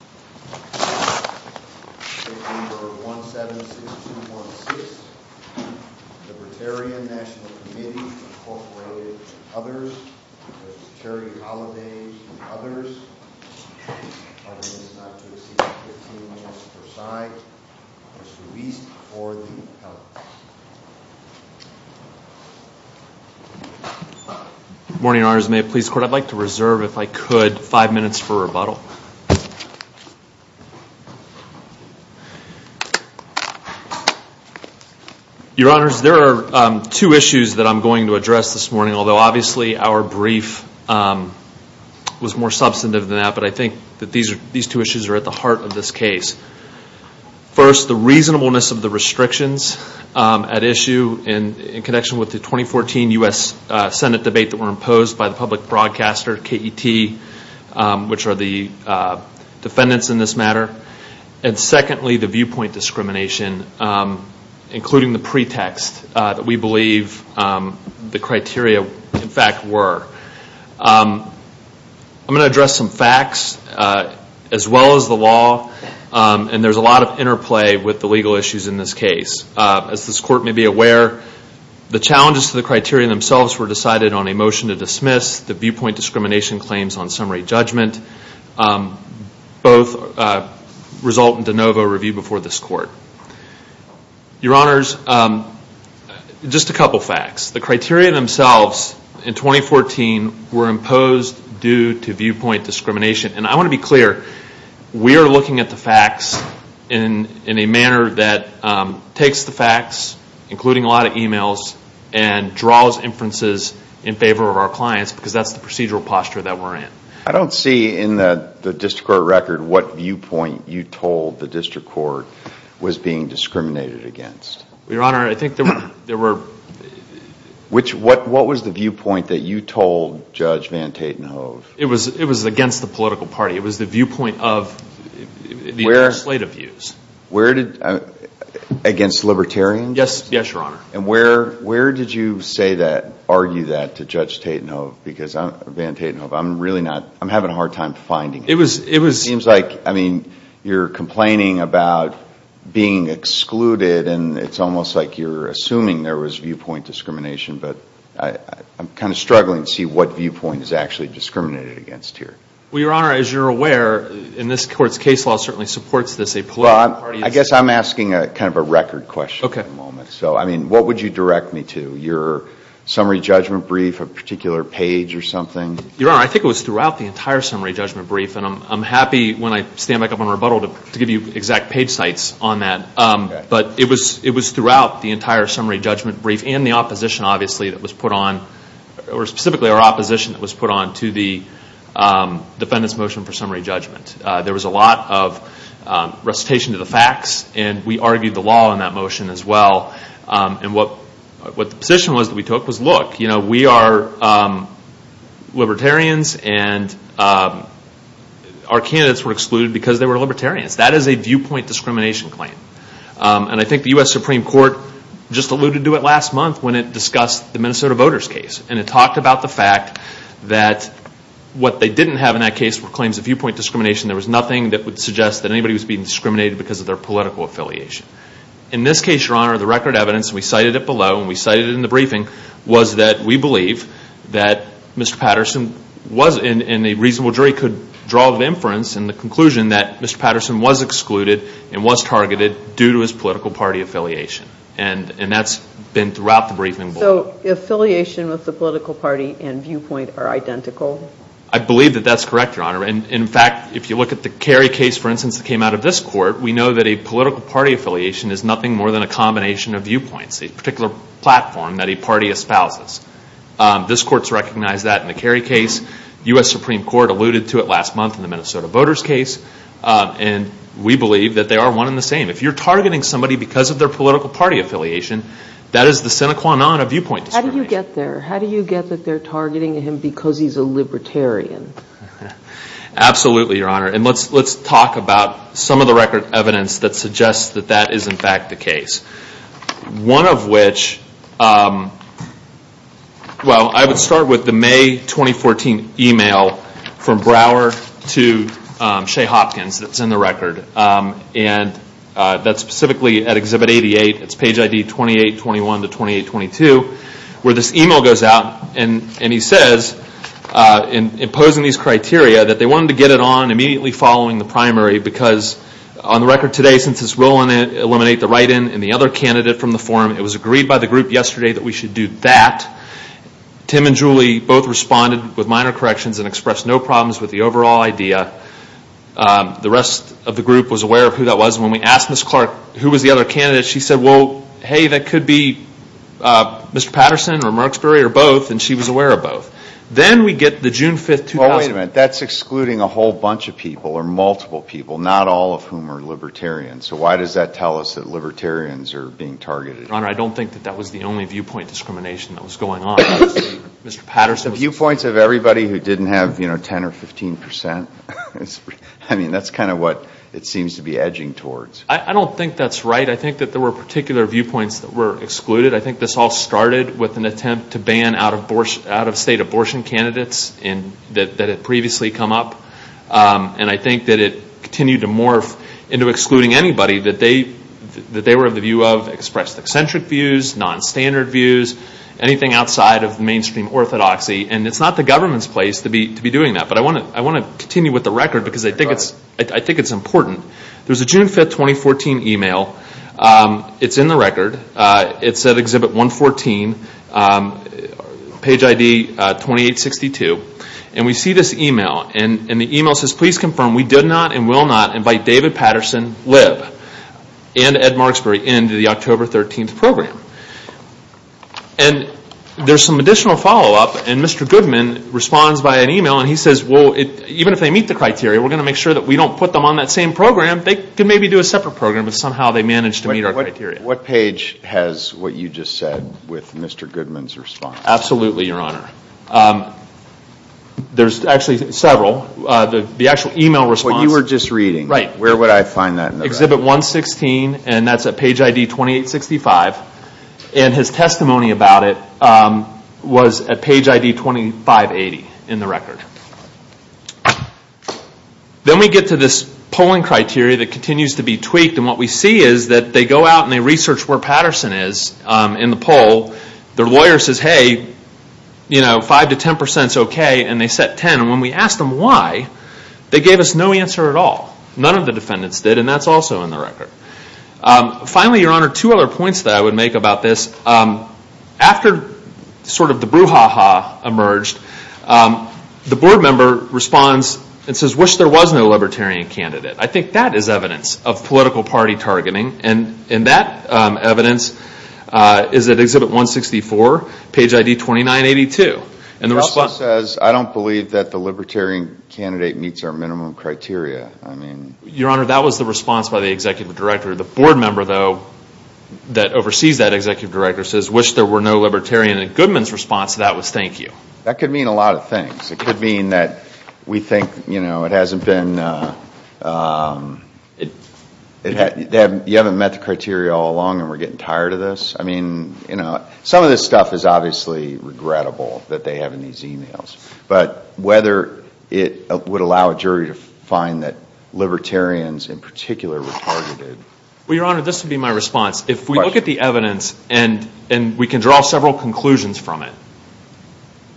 and others, other than not to exceed 15 minutes per side, is released for the public. Good morning, Your Honors. May it please the Court, I'd like to reserve, if I could, five minutes for rebuttal. Your Honors, there are two issues that I'm going to address this morning, although obviously our brief was more substantive than that, but I think that these two issues are at the heart of this case. First, the reasonableness of the restrictions at issue in connection with the 2014 U.S. Senate debate that were imposed by the public which are the defendants in this matter. And secondly, the viewpoint discrimination, including the pretext that we believe the criteria, in fact, were. I'm going to address some facts as well as the law, and there's a lot of interplay with the legal issues in this case. As this Court may be aware, the challenges to the criteria themselves were decided on a motion to dismiss the viewpoint discrimination claims on summary judgment. Both result in de novo review before this Court. Your Honors, just a couple of facts. The criteria themselves in 2014 were imposed due to viewpoint discrimination. And I want to be clear, we are looking at the facts in a manner that takes the facts, including a lot of emails, and draws inferences in favor of our clients, because that's the procedural posture that we're in. I don't see in the District Court record what viewpoint you told the District Court was being discriminated against. Your Honor, I think there were... What was the viewpoint that you told Judge Van Tatenhove? It was against the political party. It was the viewpoint of the legislative views. Against Libertarians? Yes, Your Honor. And where did you say that, argue that, to Judge Van Tatenhove? I'm having a hard time finding it. It seems like you're complaining about being excluded, and it's almost like you're assuming there was viewpoint discrimination, but I'm kind of struggling to see what viewpoint is actually discriminated against here. Well, I guess I'm asking kind of a record question at the moment. So, I mean, what would you direct me to? Your summary judgment brief, a particular page or something? Your Honor, I think it was throughout the entire summary judgment brief, and I'm happy when I stand back up and rebuttal to give you exact page sites on that. But it was throughout the entire summary judgment brief and the opposition, obviously, that was put on, or specifically our opposition that was put on to the Defendant's Motion for Summary Judgment. There was a lot of recitation of the facts, and we argued the law in that motion as well. And what the position was that we took was, look, you know, we are Libertarians, and our candidates were excluded because they were Libertarians. That is a viewpoint discrimination claim. And I think the U.S. Supreme Court just alluded to it last month when it discussed the Minnesota voters case. And it talked about the fact that what they didn't have in that case were viewpoint discrimination. There was nothing that would suggest that anybody was being discriminated because of their political affiliation. In this case, Your Honor, the record evidence, we cited it below, and we cited it in the briefing, was that we believe that Mr. Patterson was, and a reasonable jury could draw the inference in the conclusion that Mr. Patterson was excluded and was targeted due to his political party affiliation. And that's been throughout the briefing. So affiliation with the political party and viewpoint are identical? I believe that that's correct, Your Honor. And, in fact, if you look at the Kerry case, for instance, that came out of this court, we know that a political party affiliation is nothing more than a combination of viewpoints, a particular platform that a party espouses. This Court's recognized that in the Kerry case. The U.S. Supreme Court alluded to it last month in the Minnesota voters case. And we believe that they are one and the same. If you're targeting somebody because of their political party affiliation, that is the sine qua non of viewpoint discrimination. How do you get there? How do you get that they're targeting him because he's a libertarian? Absolutely, Your Honor. And let's talk about some of the record evidence that suggests that that is, in fact, the case. One of which, well, I would start with the May 2014 email from Brower to Shea Hopkins that's in the record. And that's specifically at Exhibit 88, it's page ID 2821 to 2822, where this email goes out and he says, in imposing these criteria, that they wanted to get it on immediately following the primary because on the record today, since it's willing to eliminate the write-in and the other candidate from the forum, it was agreed by the group yesterday that we should do that. Tim and Julie both responded with minor corrections and expressed no problems with the overall idea. The rest of the group was aware of who that was. When we asked Ms. Clark who was the other candidate, she said, well, hey, that could be Mr. Patterson or Marksbury or both, and she was aware of both. Then we get the June 5th, 2000... Well, wait a minute. That's excluding a whole bunch of people or multiple people, not all of whom are libertarians. So why does that tell us that libertarians are being targeted? Your Honor, I don't think that that was the only viewpoint discrimination that was going on. Mr. Patterson was... The viewpoints of everybody who didn't have, you know, 10 or 15 percent? I mean, that's kind of what it seems to be edging towards. I don't think that's right. I think that there were particular viewpoints that were excluded. I think this all started with an attempt to ban out-of-state abortion candidates that had previously come up. And I think that it continued to morph into excluding anybody that they were of the view of, expressed eccentric views, non-standard views, anything outside of mainstream orthodoxy. And it's not the government's place to be doing that. But I want to continue with the record because I think it's important. There's a June 5, 2014 email. It's in the record. It's at Exhibit 114, page ID 2862. And we see this email. And the email says, please confirm we did not and will not invite David Patterson, Lib, and Ed Marksbury into the October 13th program. And there's some additional follow-up. And Mr. Goodman responds by an email. And he says, well, even if they meet the criteria, we're going to make sure that we don't put them on that same program. They can maybe do a separate program. But somehow they managed to meet our criteria. What page has what you just said with Mr. Goodman's response? Absolutely, Your Honor. There's actually several. The actual email response. What you were just reading. Right. Where would I find that in the record? Exhibit 116. And that's at page ID 2865. And his testimony about it was at page ID 2580 in the record. Then we get to this polling criteria that continues to be tweaked. And what we see is that they go out and they research where Patterson is in the poll. Their lawyer says, hey, you know, 5 to 10% is okay. And they set 10. And when we asked them why, they gave us no answer at all. None of the defendants did. And that's also in the record. Finally, Your Honor, two other points that I would make about this. After sort of the board member responds and says, wish there was no Libertarian candidate. I think that is evidence of political party targeting. And that evidence is at Exhibit 164, page ID 2982. He also says, I don't believe that the Libertarian candidate meets our minimum criteria. Your Honor, that was the response by the Executive Director. The board member, though, that oversees that Executive Director says, wish there were no Libertarian. And Goodman's response to that was, thank you. That could mean a lot of things. It could mean that we think, you know, it hasn't been, you haven't met the criteria all along and we're getting tired of this. I mean, you know, some of this stuff is obviously regrettable that they have in these emails. But whether it would allow a jury to find that Libertarians in particular were targeted. Well, Your Honor, this would be my response. If we look at the evidence and we can draw several conclusions from it,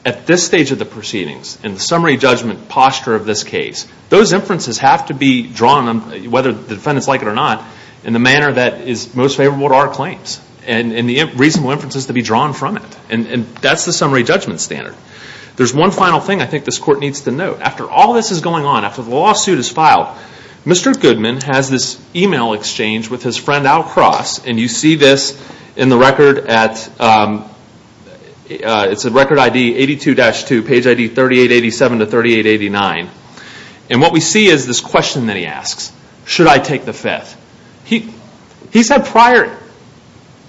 at this stage of the proceedings, in the summary judgment posture of this case, those inferences have to be drawn, whether the defendants like it or not, in the manner that is most favorable to our claims. And the reasonable inferences to be drawn from it. And that's the summary judgment standard. There's one final thing I think this Court needs to note. After all this is going on, after the lawsuit is filed, Mr. Goodman has this email exchange with his friend Al Cross and you see this in the record at, it's in record ID 82-2, page ID 3887-3889. And what we see is this question that he asks. Should I take the fifth? He's had prior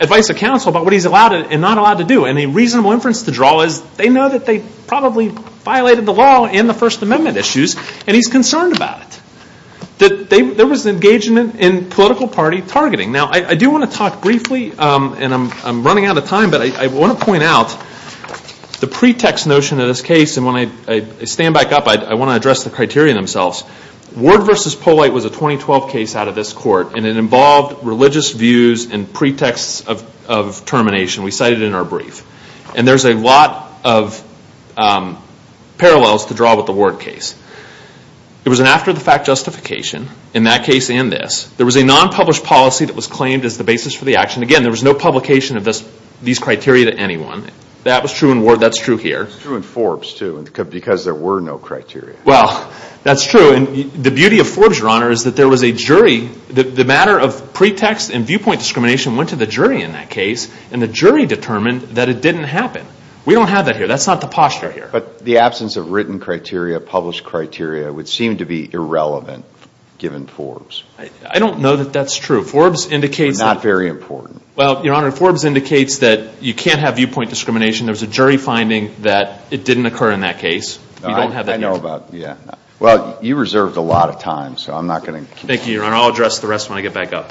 advice of counsel about what he's allowed and not allowed to do. And a reasonable inference to draw is they know that they probably violated the law in the First Amendment issues and he's concerned about it. That there was engagement in political party targeting. Now, I do want to talk briefly, and I'm running out of time, but I want to point out the pretext notion of this case. And when I stand back up, I want to address the criteria themselves. Ward v. Polite was a 2012 case out of this Court and it involved religious views and pretexts of termination. We cited it in our brief. And there's a lot of parallels to draw with the Ward case. It was an after the fact justification in that case and this. There was a non-published policy that was claimed as the basis for the action. Again, there was no publication of these criteria to anyone. That was true in Ward. That's true here. It's true in Forbes, too, because there were no criteria. Well, that's true. And the beauty of Forbes, Your Honor, is that there was a jury. The matter of pretext and viewpoint discrimination went to the jury in that case and the jury determined that it didn't happen. We don't have that here. That's not the posture here. But the absence of written criteria, published criteria, would seem to be irrelevant given Forbes. I don't know that that's true. Forbes indicates that you can't have viewpoint discrimination. There was a jury finding that it didn't occur in that case. I know about, yeah. Well, you reserved a lot of time, so I'm not going to. Thank you, Your Honor. I'll address the rest when I get back up.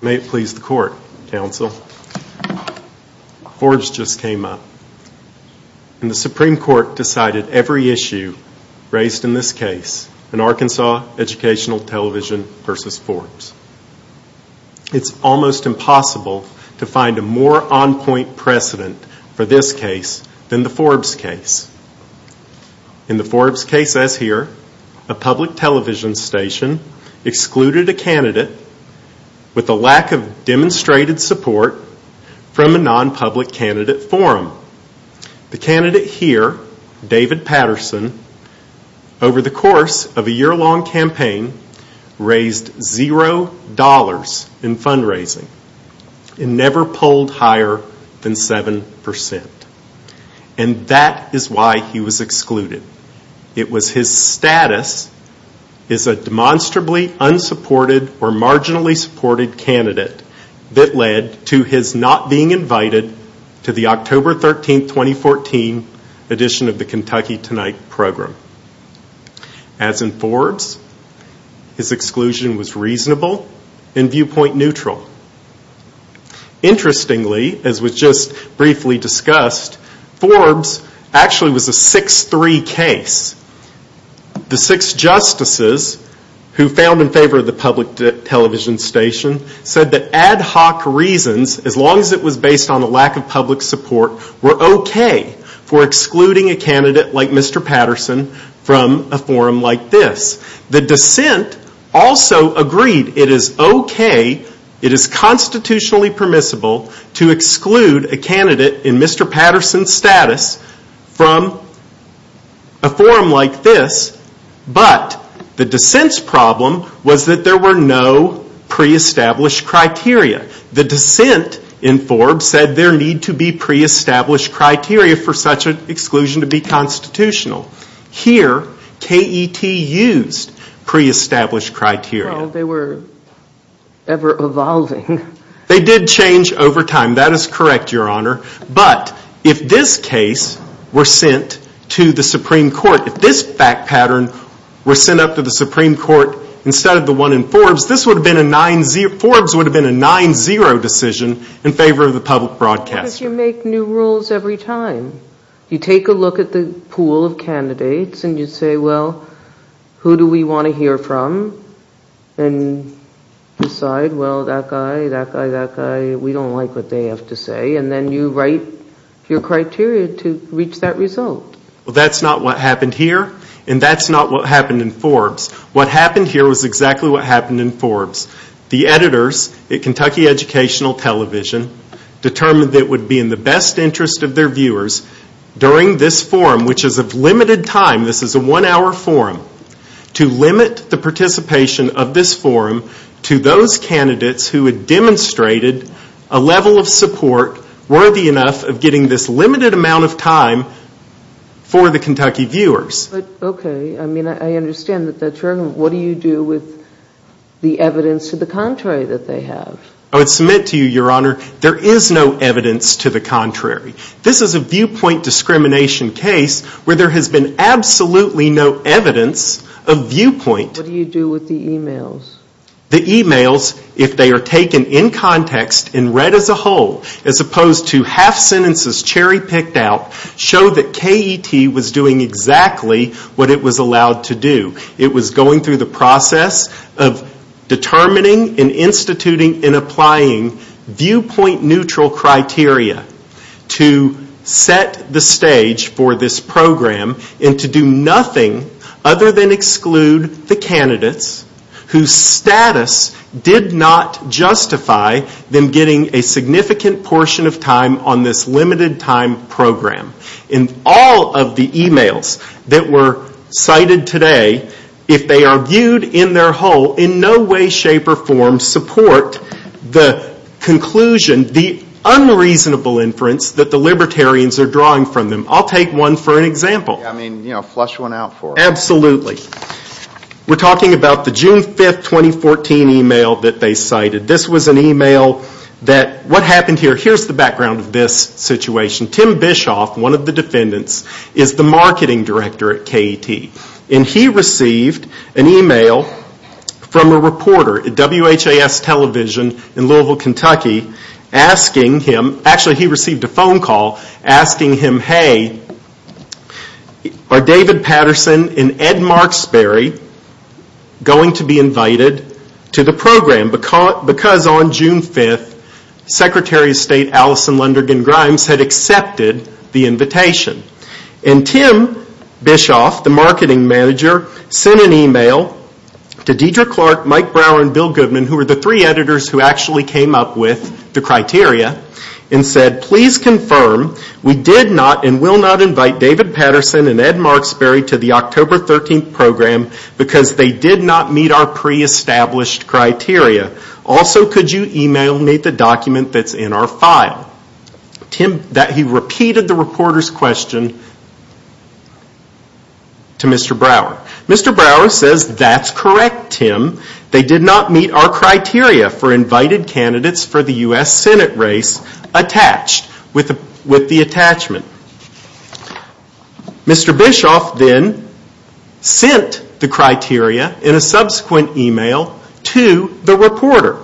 May it please the Court, Counsel. Forbes just came up. And the Supreme Court decided every case in Arkansas Educational Television v. Forbes. It's almost impossible to find a more on-point precedent for this case than the Forbes case. In the Forbes case as here, a public television station excluded a candidate with a lack of demonstrated support from a non-public candidate forum. The candidate here, David Patterson, over the course of a year-long campaign, raised $0 in fundraising and never pulled higher than 7%. And that is why he was excluded. It was his status as a demonstrably unsupported or marginally supported candidate that led to his not being invited to the October 13, 2014, edition of the Kentucky Tonight program. As in Forbes, his exclusion was reasonable and viewpoint neutral. Interestingly, as was just briefly discussed, Forbes actually was a 6-3 case. The six justices who found in favor of the public television station said that ad hoc reasons, as long as it is OK for excluding a candidate like Mr. Patterson from a forum like this. The dissent also agreed it is OK, it is constitutionally permissible to exclude a candidate in Mr. Patterson's status from a forum like this, but the dissent's problem was that there were no pre-established criteria. The dissent in Forbes said there need to be pre-established criteria for such an exclusion to be constitutional. Here, KET used pre-established criteria. They were ever evolving. They did change over time. That is correct, Your Honor. But if this case were sent to the Supreme Court, if this fact pattern were sent up to the Supreme Court instead of the one in Forbes, this would have been a 9-0 decision in favor of the public broadcaster. Because you make new rules every time. You take a look at the pool of candidates and you say, well, who do we want to hear from? And decide, well, that guy, that guy, that guy, we don't like what they have to say, and then you write your criteria to reach that result. That's not what happened here, and that's not what happened in Forbes. What happened here was exactly what happened in Forbes. The editors at Kentucky Educational Television determined that it would be in the best interest of their viewers during this forum, which is of limited time, this is a one-hour forum, to limit the participation of this forum to those candidates who had demonstrated a level of support worthy enough of getting this limited amount of time for the Kentucky viewers. But, okay, I mean, I understand that that's wrong. What do you do with the evidence to the contrary that they have? I would submit to you, Your Honor, there is no evidence to the contrary. This is a viewpoint discrimination case where there has been absolutely no evidence of viewpoint. What do you do with the emails? The emails, if they are taken in context and read as a whole, as opposed to half sentences cherry picked out, show that KET was doing exactly what it was allowed to do. It was going through the process of determining and instituting and applying viewpoint neutral criteria to set the stage for this program and to do nothing other than exclude the candidates whose status did not justify them getting a significant portion of time on this limited time program. In all of the emails that were cited today, if they are viewed in their whole, in no way, shape, or form, support the conclusion, the unreasonable inference that the Libertarians are drawing from them. I'll take one for an example. I mean, you know, flush one out for us. Absolutely. We're talking about the June 5, 2014 email that they cited. This was an email that, what happened here, here's the background of this situation. Tim Bischoff, one of the defendants, is the marketing director at KET. He received an email from a reporter at WHAS television in Louisville, Kentucky, asking him, actually he received a phone call asking him, hey, are David Patterson and Ed Marksberry going to be invited to the program because on June 5th, Secretary of State Alison Lundergan Grimes had accepted the invitation. Tim Bischoff, the marketing manager, sent an email to Deidre Clark, Mike Brower, and Bill Goodman, who were the three editors who actually came up with the criteria, and said, please confirm we did not and will not invite David Patterson and Ed Marksberry to the October 13th program because they did not meet our pre-established criteria. Also, could you email me the document that's in our file? Tim, he repeated the reporter's question to Mr. Brower. Mr. Brower says, that's correct, Tim. They did not meet our criteria for invited candidates for the U.S. Senate race attached with the attachment. Mr. Bischoff, then, said, sent the criteria in a subsequent email to the reporter,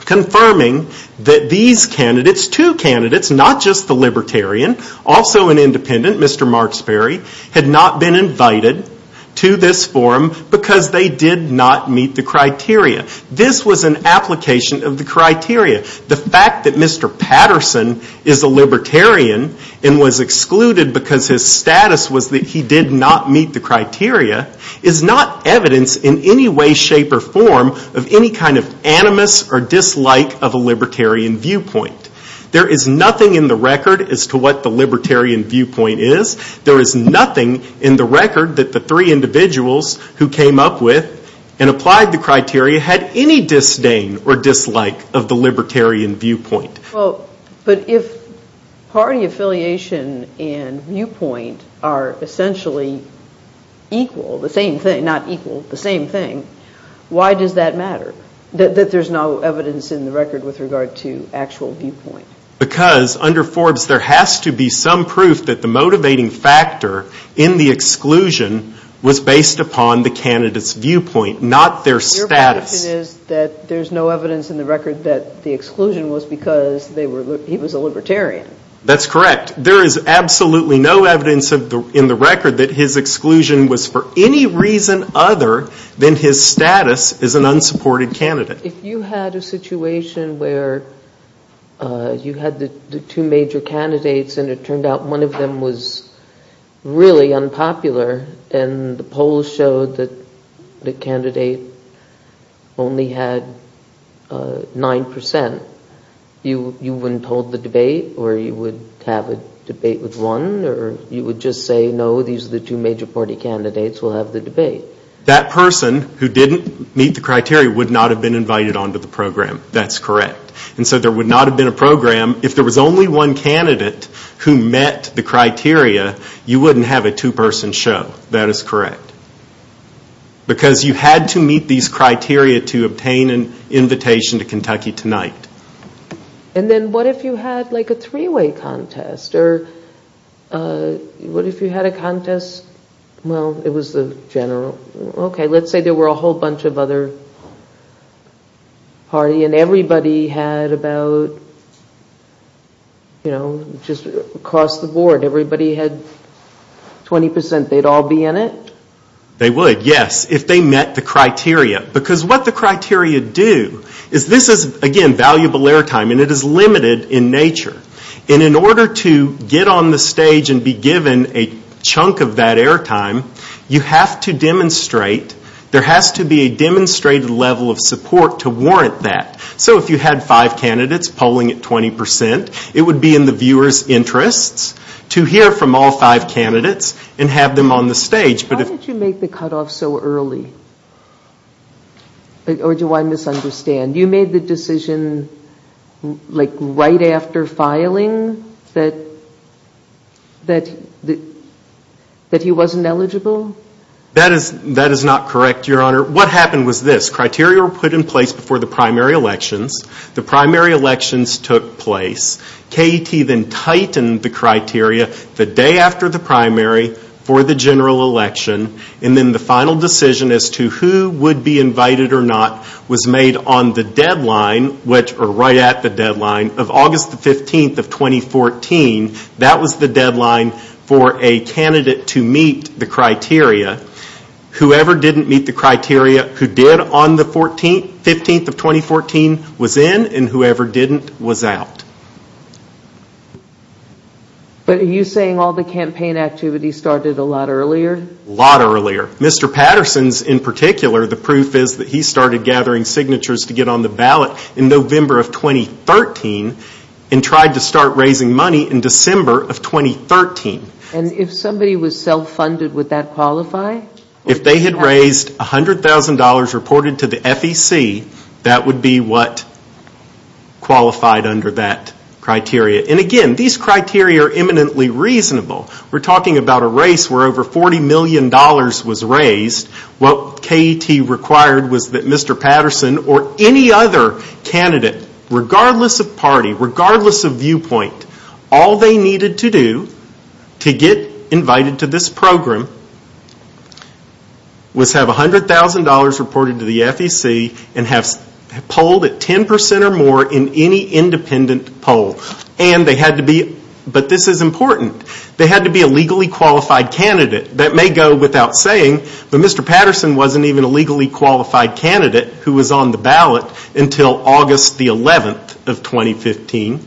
confirming that these candidates, two candidates, not just the Libertarian, also an Independent, Mr. Marksberry, had not been invited to this forum because they did not meet the criteria. This was an application of the criteria. The fact that Mr. Patterson is a Libertarian and was excluded because his status was that he did not meet the criteria is not evidence in any way, shape, or form of any kind of animus or dislike of a Libertarian viewpoint. There is nothing in the record as to what the Libertarian viewpoint is. There is nothing in the record that the three individuals who came up with and applied the criteria had any disdain or dislike of the Libertarian viewpoint. But if party affiliation and viewpoint are essentially equal, the same thing, not equal, the same thing, why does that matter, that there is no evidence in the record with regard to actual viewpoint? Because under Forbes, there has to be some proof that the motivating factor in the exclusion was based upon the candidate's viewpoint, not their viewpoint. The exclusion was because he was a Libertarian. That's correct. There is absolutely no evidence in the record that his exclusion was for any reason other than his status as an unsupported candidate. If you had a situation where you had the two major candidates and it turned out one of them was really unpopular and the polls showed that the candidate only had 9% of the votes you wouldn't hold the debate or you would have a debate with one or you would just say no, these are the two major party candidates, we'll have the debate. That person who didn't meet the criteria would not have been invited onto the program. That's correct. And so there would not have been a program, if there was only one candidate who met the criteria, you wouldn't have a two person show. That is correct. Because you had to meet these criteria to obtain an invitation to Kentucky tonight. And then what if you had like a three-way contest or what if you had a contest, well it was the general, okay, let's say there were a whole bunch of other party and everybody had about, you know, just across the board, everybody had 20%, they'd all be in it? They would, yes, if they met the criteria. Because what the criteria do is this is again valuable air time and it is limited in nature. And in order to get on the stage and be given a chunk of that air time, you have to demonstrate, there has to be a demonstrated level of support to warrant that. So if you had five candidates polling at 20%, it would be in the viewer's interest to have five candidates and have them on the stage. Why did you make the cutoff so early? Or do I misunderstand? You made the decision like right after filing that he wasn't eligible? That is not correct, Your Honor. What happened was this. Criteria were put in place before the primary elections. The primary elections took place. KET then tightened the criteria. The day after the primary for the general election. And then the final decision as to who would be invited or not was made on the deadline, or right at the deadline of August the 15th of 2014. That was the deadline for a candidate to meet the criteria. Whoever didn't meet the criteria who did on the 15th of 2014 was in and whoever didn't was out. But are you saying all the campaign activity started a lot earlier? A lot earlier. Mr. Patterson's in particular, the proof is that he started gathering signatures to get on the ballot in November of 2013 and tried to start raising money in December of 2013. And if somebody was self-funded, would that qualify? If they had raised $100,000 reported to the FEC, that would be what qualified under that criteria. And again, these criteria are eminently reasonable. We're talking about a race where over $40 million was raised. What KET required was that Mr. Patterson or any other candidate, regardless of party, regardless of viewpoint, all they needed to do to get invited to this program was have $100,000 reported to the FEC and have polled at 10% or more in any independent poll. But this is important. They had to be a legally qualified candidate. That may go without saying, but Mr. Patterson wasn't even a legally qualified candidate who was on the ballot until August 11th of 2014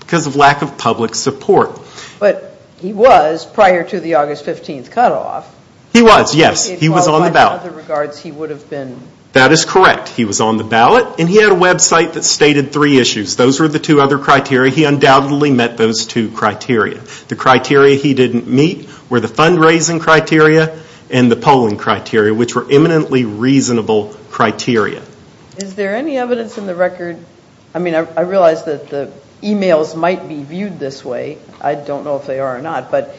because of lack of public support. But he was prior to the August 15th cutoff. He was, yes. He was on the ballot. He qualified in other regards he would have been. That is correct. He was on the ballot, and he had a website that stated three issues. Those were the two other criteria. He undoubtedly met those two criteria. The criteria he didn't meet were the fundraising criteria and the polling criteria, which were eminently reasonable criteria. Is there any evidence in the record, I mean I realize that the emails might be viewed this way, I don't know if they are or not, but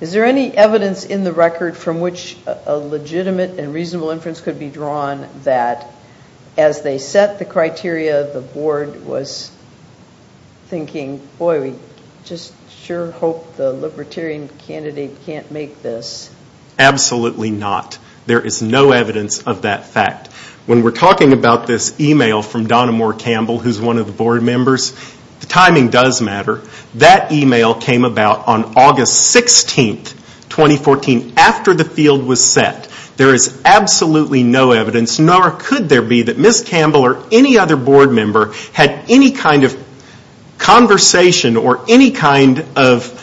is there any evidence in the record from which a legitimate and reasonable inference could be drawn that as they set the criteria the board was thinking, boy we just sure hope the Libertarian candidate can't make this? Absolutely not. There is no evidence of that fact. When we are talking about this email from Donna Moore Campbell, who is one of the board members, the timing does matter. That email came about on August 16th, 2014, after the field was set. There is absolutely no evidence, nor could there be, that Ms. Campbell or any other board member had any kind of conversation or any kind of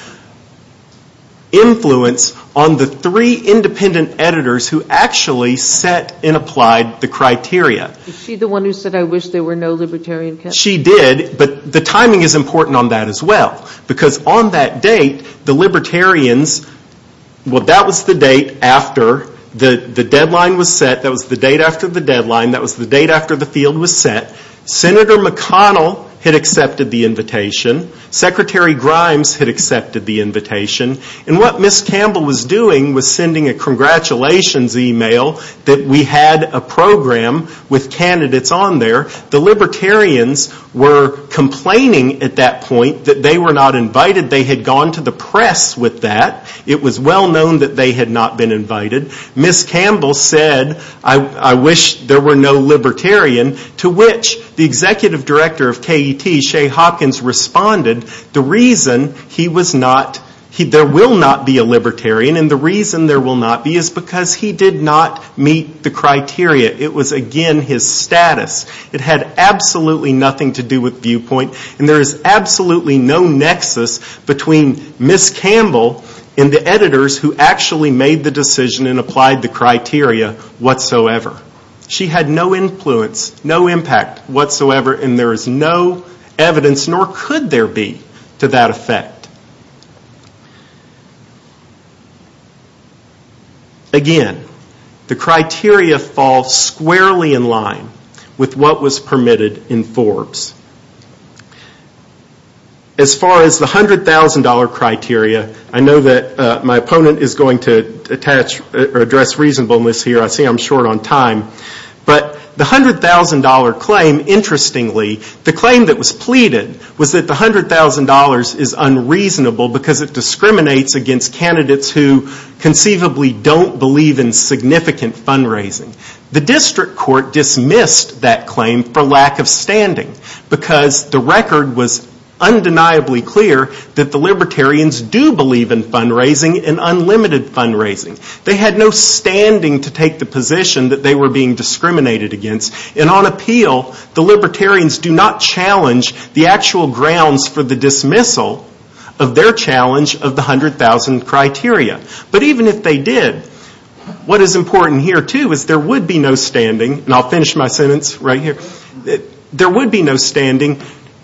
influence on the three independent editors who actually set and applied the criteria. Is she the one who said I wish there were no Libertarian candidates? She did, but the timing is important on that as well. Because on that date, the Libertarians, well that was the date after the deadline was set, that was the date after the deadline, that was the date after the field was set, Senator McConnell had accepted the invitation, Secretary Grimes had accepted the invitation, and what Ms. Campbell was doing was sending a congratulations email that we had a program with candidates on there. The Libertarians were complaining at that point that they were not invited. They had gone to the press with that. It was well known that they had not been invited. Ms. Campbell said I wish there were no Libertarian, to which the Executive Director of KET, Shea Hopkins, responded the reason there will not be a Libertarian and the reason there will not be is because he did not meet the criteria. It was again his status. It had absolutely nothing to do with viewpoint and there is absolutely no nexus between Ms. Campbell and the editors who actually made the decision and applied the criteria whatsoever. She had no influence, no impact whatsoever, and there is no evidence, nor could there be to that effect. Again, the criteria fall squarely in line with what was permitted in Forbes. As far as the $100,000 criteria, I know that my opponent is going to address reasonableness here. I see I am short on time. But the $100,000 claim, interestingly, the claim that was pleaded was that the $100,000 is unreasonable because it discriminates against candidates who conceivably don't believe in significant fundraising. The district court dismissed that claim for lack of standing because the record was undeniably clear that the Libertarians do believe in fundraising and unlimited fundraising. They had no standing to take the position that they were being discriminated against and on appeal, the Libertarians do not challenge the actual grounds for the dismissal of their challenge of the $100,000 criteria. But even if they did, what is important here, too, is there would be no standing, and I will finish my sentence right here. There would be no standing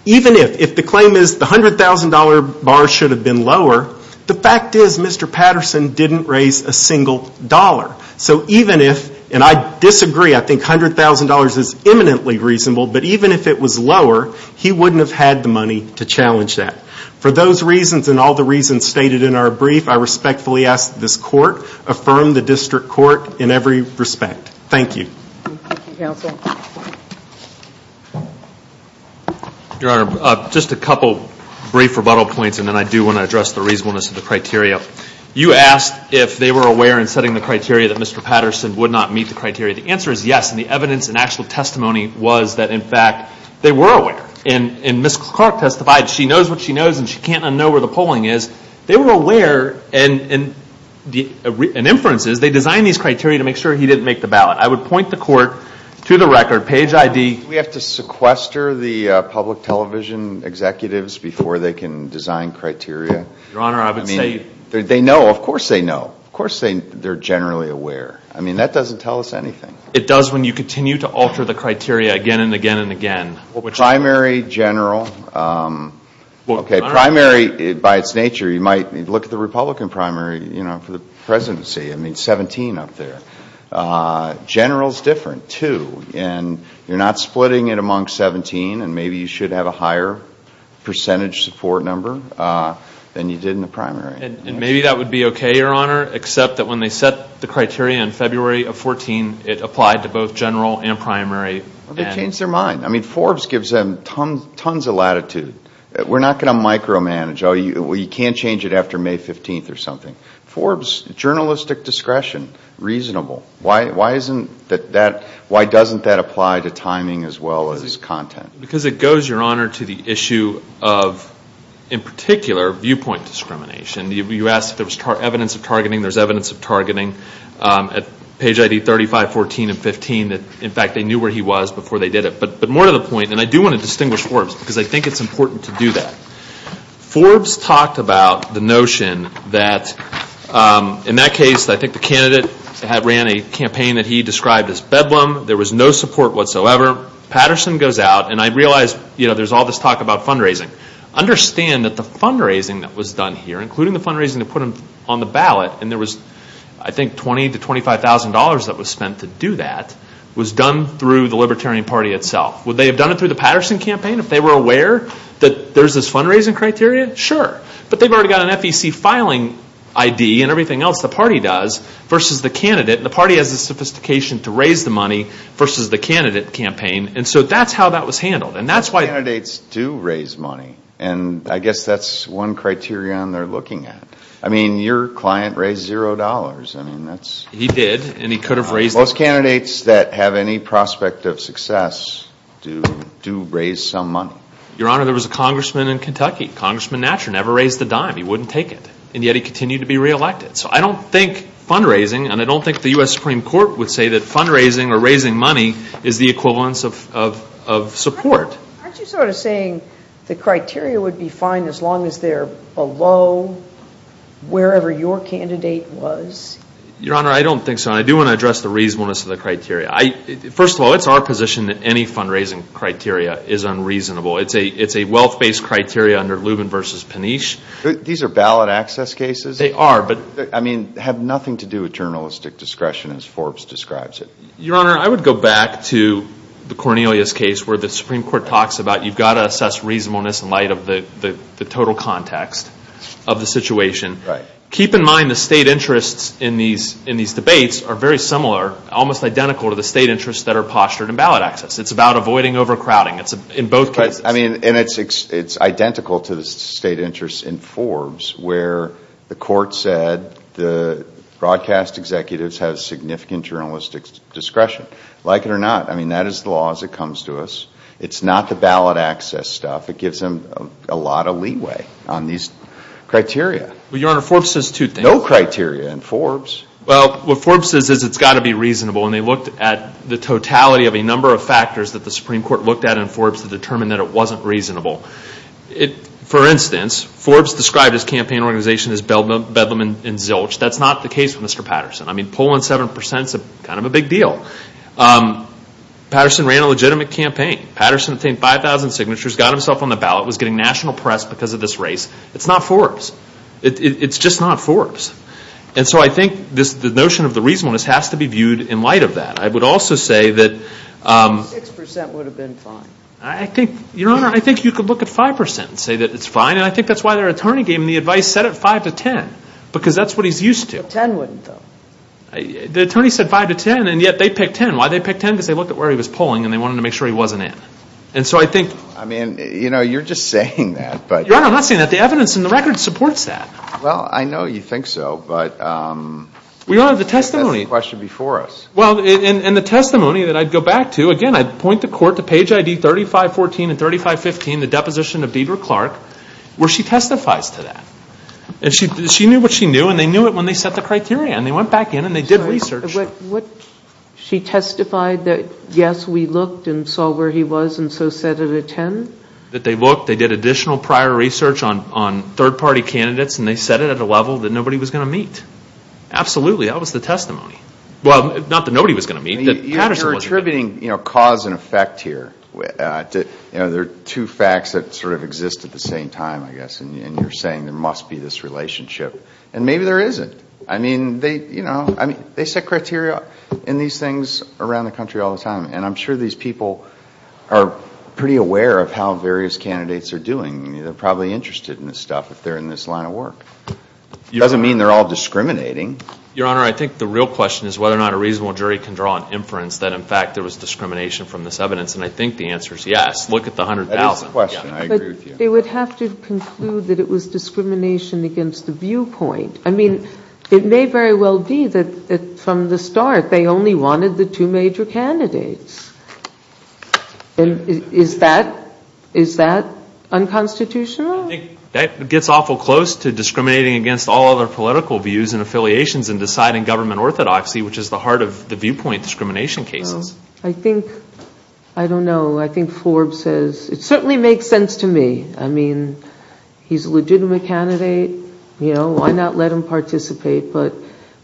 even if the claim is the $100,000 bar should have been lower. The fact is Mr. Patterson didn't raise a single dollar. So even if, and I disagree, I think $100,000 is eminently reasonable, but even if it was lower, he wouldn't have had the money to challenge that. For those reasons and all the reasons stated in our brief, I respectfully ask that this court affirm the district court in every respect. Thank you. Thank you, counsel. Your Honor, just a couple brief rebuttal points and then I do want to address the reasonableness of the criteria. You asked if they were aware in setting the criteria that Mr. Patterson would not meet the criteria. The answer is yes, and the evidence and actual testimony was that, in fact, they were aware. And Ms. Clark testified, she knows what she knows and she can't unknow where the polling is. They were aware and inferences, they designed these criteria to make sure he didn't make the ballot. I would point the court to the record, page ID. We have to sequester the public television executives before they can design criteria? Your Honor, I would say... I mean, they know, of course they know, of course they're generally aware. I mean, that doesn't tell us anything. It does when you continue to alter the criteria again and again and again. Primary, general, okay, primary by its nature, you might look at the Republican primary, you know, for the presidency, I mean, 17 up there. General is different too and you're not splitting it among 17 and maybe you should have a higher percentage support number than you did in the primary. And maybe that would be okay, Your Honor, except that when they set the criteria in February of 14, it applied to both general and primary. Well, they changed their mind. I mean, Forbes gives them tons of latitude. We're not going to micromanage, oh, you can't change it after May 15th or something. Forbes, journalistic discretion, reasonable. Why doesn't that apply to timing as well as content? Because it goes, Your Honor, to the issue of, in particular, viewpoint discrimination. You asked if there was evidence of targeting. There's evidence of targeting at page ID 35, 14, and 15 that, in fact, they knew where he was before they did it. But more to the point, and I do want to distinguish Forbes because I think it's important to do that, Forbes talked about the notion that, in that case, I think the candidate ran a campaign that he described as bedlam. There was no support whatsoever. Patterson goes out, and I realize there's all this talk about fundraising. Understand that the fundraising that was done here, including the fundraising that put him on the ballot, and there was, I think, $20,000 to $25,000 that was spent to do that, was done through the Libertarian Party itself. Would they have done it through the Patterson campaign if they were aware that there's this fundraising criteria? Sure. But they've already got an FEC filing ID and everything else the party does versus the candidate campaign, and so that's how that was handled, and that's why... Candidates do raise money, and I guess that's one criterion they're looking at. I mean, your client raised $0. I mean, that's... He did, and he could have raised... Most candidates that have any prospect of success do raise some money. Your Honor, there was a congressman in Kentucky, Congressman Natcher, never raised a dime. He wouldn't take it, and yet he continued to be reelected. So I don't think fundraising, and I don't think the U.S. Supreme Court would say that is the equivalence of support. Aren't you sort of saying the criteria would be fine as long as they're below wherever your candidate was? Your Honor, I don't think so, and I do want to address the reasonableness of the criteria. First of all, it's our position that any fundraising criteria is unreasonable. It's a wealth-based criteria under Lubin versus Panish. These are ballot access cases? They are, but... I mean, have nothing to do with journalistic discretion as Forbes describes it. Your Honor, I would go back to the Cornelius case where the Supreme Court talks about you've got to assess reasonableness in light of the total context of the situation. Keep in mind the state interests in these debates are very similar, almost identical to the state interests that are postured in ballot access. It's about avoiding overcrowding in both cases. I mean, and it's identical to the state interests in Forbes where the court said the broadcast executives have significant journalistic discretion. Like it or not, I mean, that is the law as it comes to us. It's not the ballot access stuff. It gives them a lot of leeway on these criteria. Well, Your Honor, Forbes says two things. No criteria in Forbes. Well, what Forbes says is it's got to be reasonable, and they looked at the totality of a number of factors that the Supreme Court looked at in Forbes to determine that it wasn't reasonable. For instance, Forbes described his campaign organization as bedlam and zilch. That's not the case with Mr. Patterson. I mean, polling 7% is kind of a big deal. Patterson ran a legitimate campaign. Patterson obtained 5,000 signatures, got himself on the ballot, was getting national press because of this race. It's not Forbes. It's just not Forbes. And so I think the notion of the reasonableness has to be viewed in light of that. I would also say that... 6% would have been fine. I think, Your Honor, I think you could look at 5% and say that it's fine, and I think that's why their attorney gave him the advice set at 5 to 10, because that's what he's used to. But 10 wouldn't, though. The attorney said 5 to 10, and yet they picked 10. Why they picked 10? Because they looked at where he was polling, and they wanted to make sure he wasn't in. And so I think... I mean, you know, you're just saying that, but... Your Honor, I'm not saying that. The evidence in the record supports that. Well, I know you think so, but... We don't have the testimony... That's the question before us. Well, and the testimony that I'd go back to, again, I'd point the Court to page ID 3514 and 3515, the deposition of Deidre Clark, where she testifies to that. And she knew what she knew, and they knew it when they set the criteria, and they went back in and they did research. She testified that, yes, we looked and saw where he was, and so set it at 10? That they looked, they did additional prior research on third-party candidates, and they set it at a level that nobody was going to meet. Absolutely. That was the testimony. Well, not that nobody was going to meet, that Patterson wasn't going to meet. You're attributing cause and effect here. There are two facts that sort of exist at the same time, I guess, and you're saying there must be this relationship. And maybe there isn't. I mean, they set criteria in these things around the country all the time, and I'm sure these people are pretty aware of how various candidates are doing. They're probably interested in this stuff if they're in this line of work. Doesn't mean they're all discriminating. Your Honor, I think the real question is whether or not a reasonable jury can draw an inference that in fact there was discrimination from this evidence, and I think the answer is yes. Look at the 100,000. That is the question. I agree with you. They would have to conclude that it was discrimination against the viewpoint. I mean, it may very well be that from the start they only wanted the two major candidates. Is that unconstitutional? That gets awful close to discriminating against all other political views and affiliations and deciding government orthodoxy, which is the heart of the viewpoint discrimination cases. I think, I don't know. I think Forbes says, it certainly makes sense to me. I mean, he's a legitimate candidate, you know, why not let him participate, but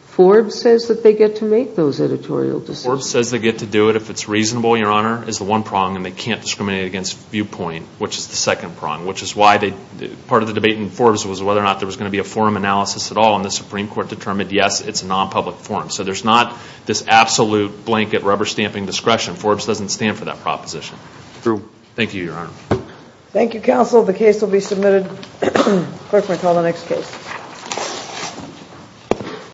Forbes says that they get to make those editorial decisions. Forbes says they get to do it if it's reasonable, Your Honor, is the one prong, and they can't discriminate against viewpoint, which is the second prong, which is why part of the debate in Forbes was whether or not there was going to be a forum analysis at all, and the Supreme Court determined yes, it's a non-public forum. So there's not this absolute blanket rubber-stamping discretion. Forbes doesn't stand for that proposition. Thank you, Your Honor. Thank you, counsel. The case will be submitted. Clerk may call the next case.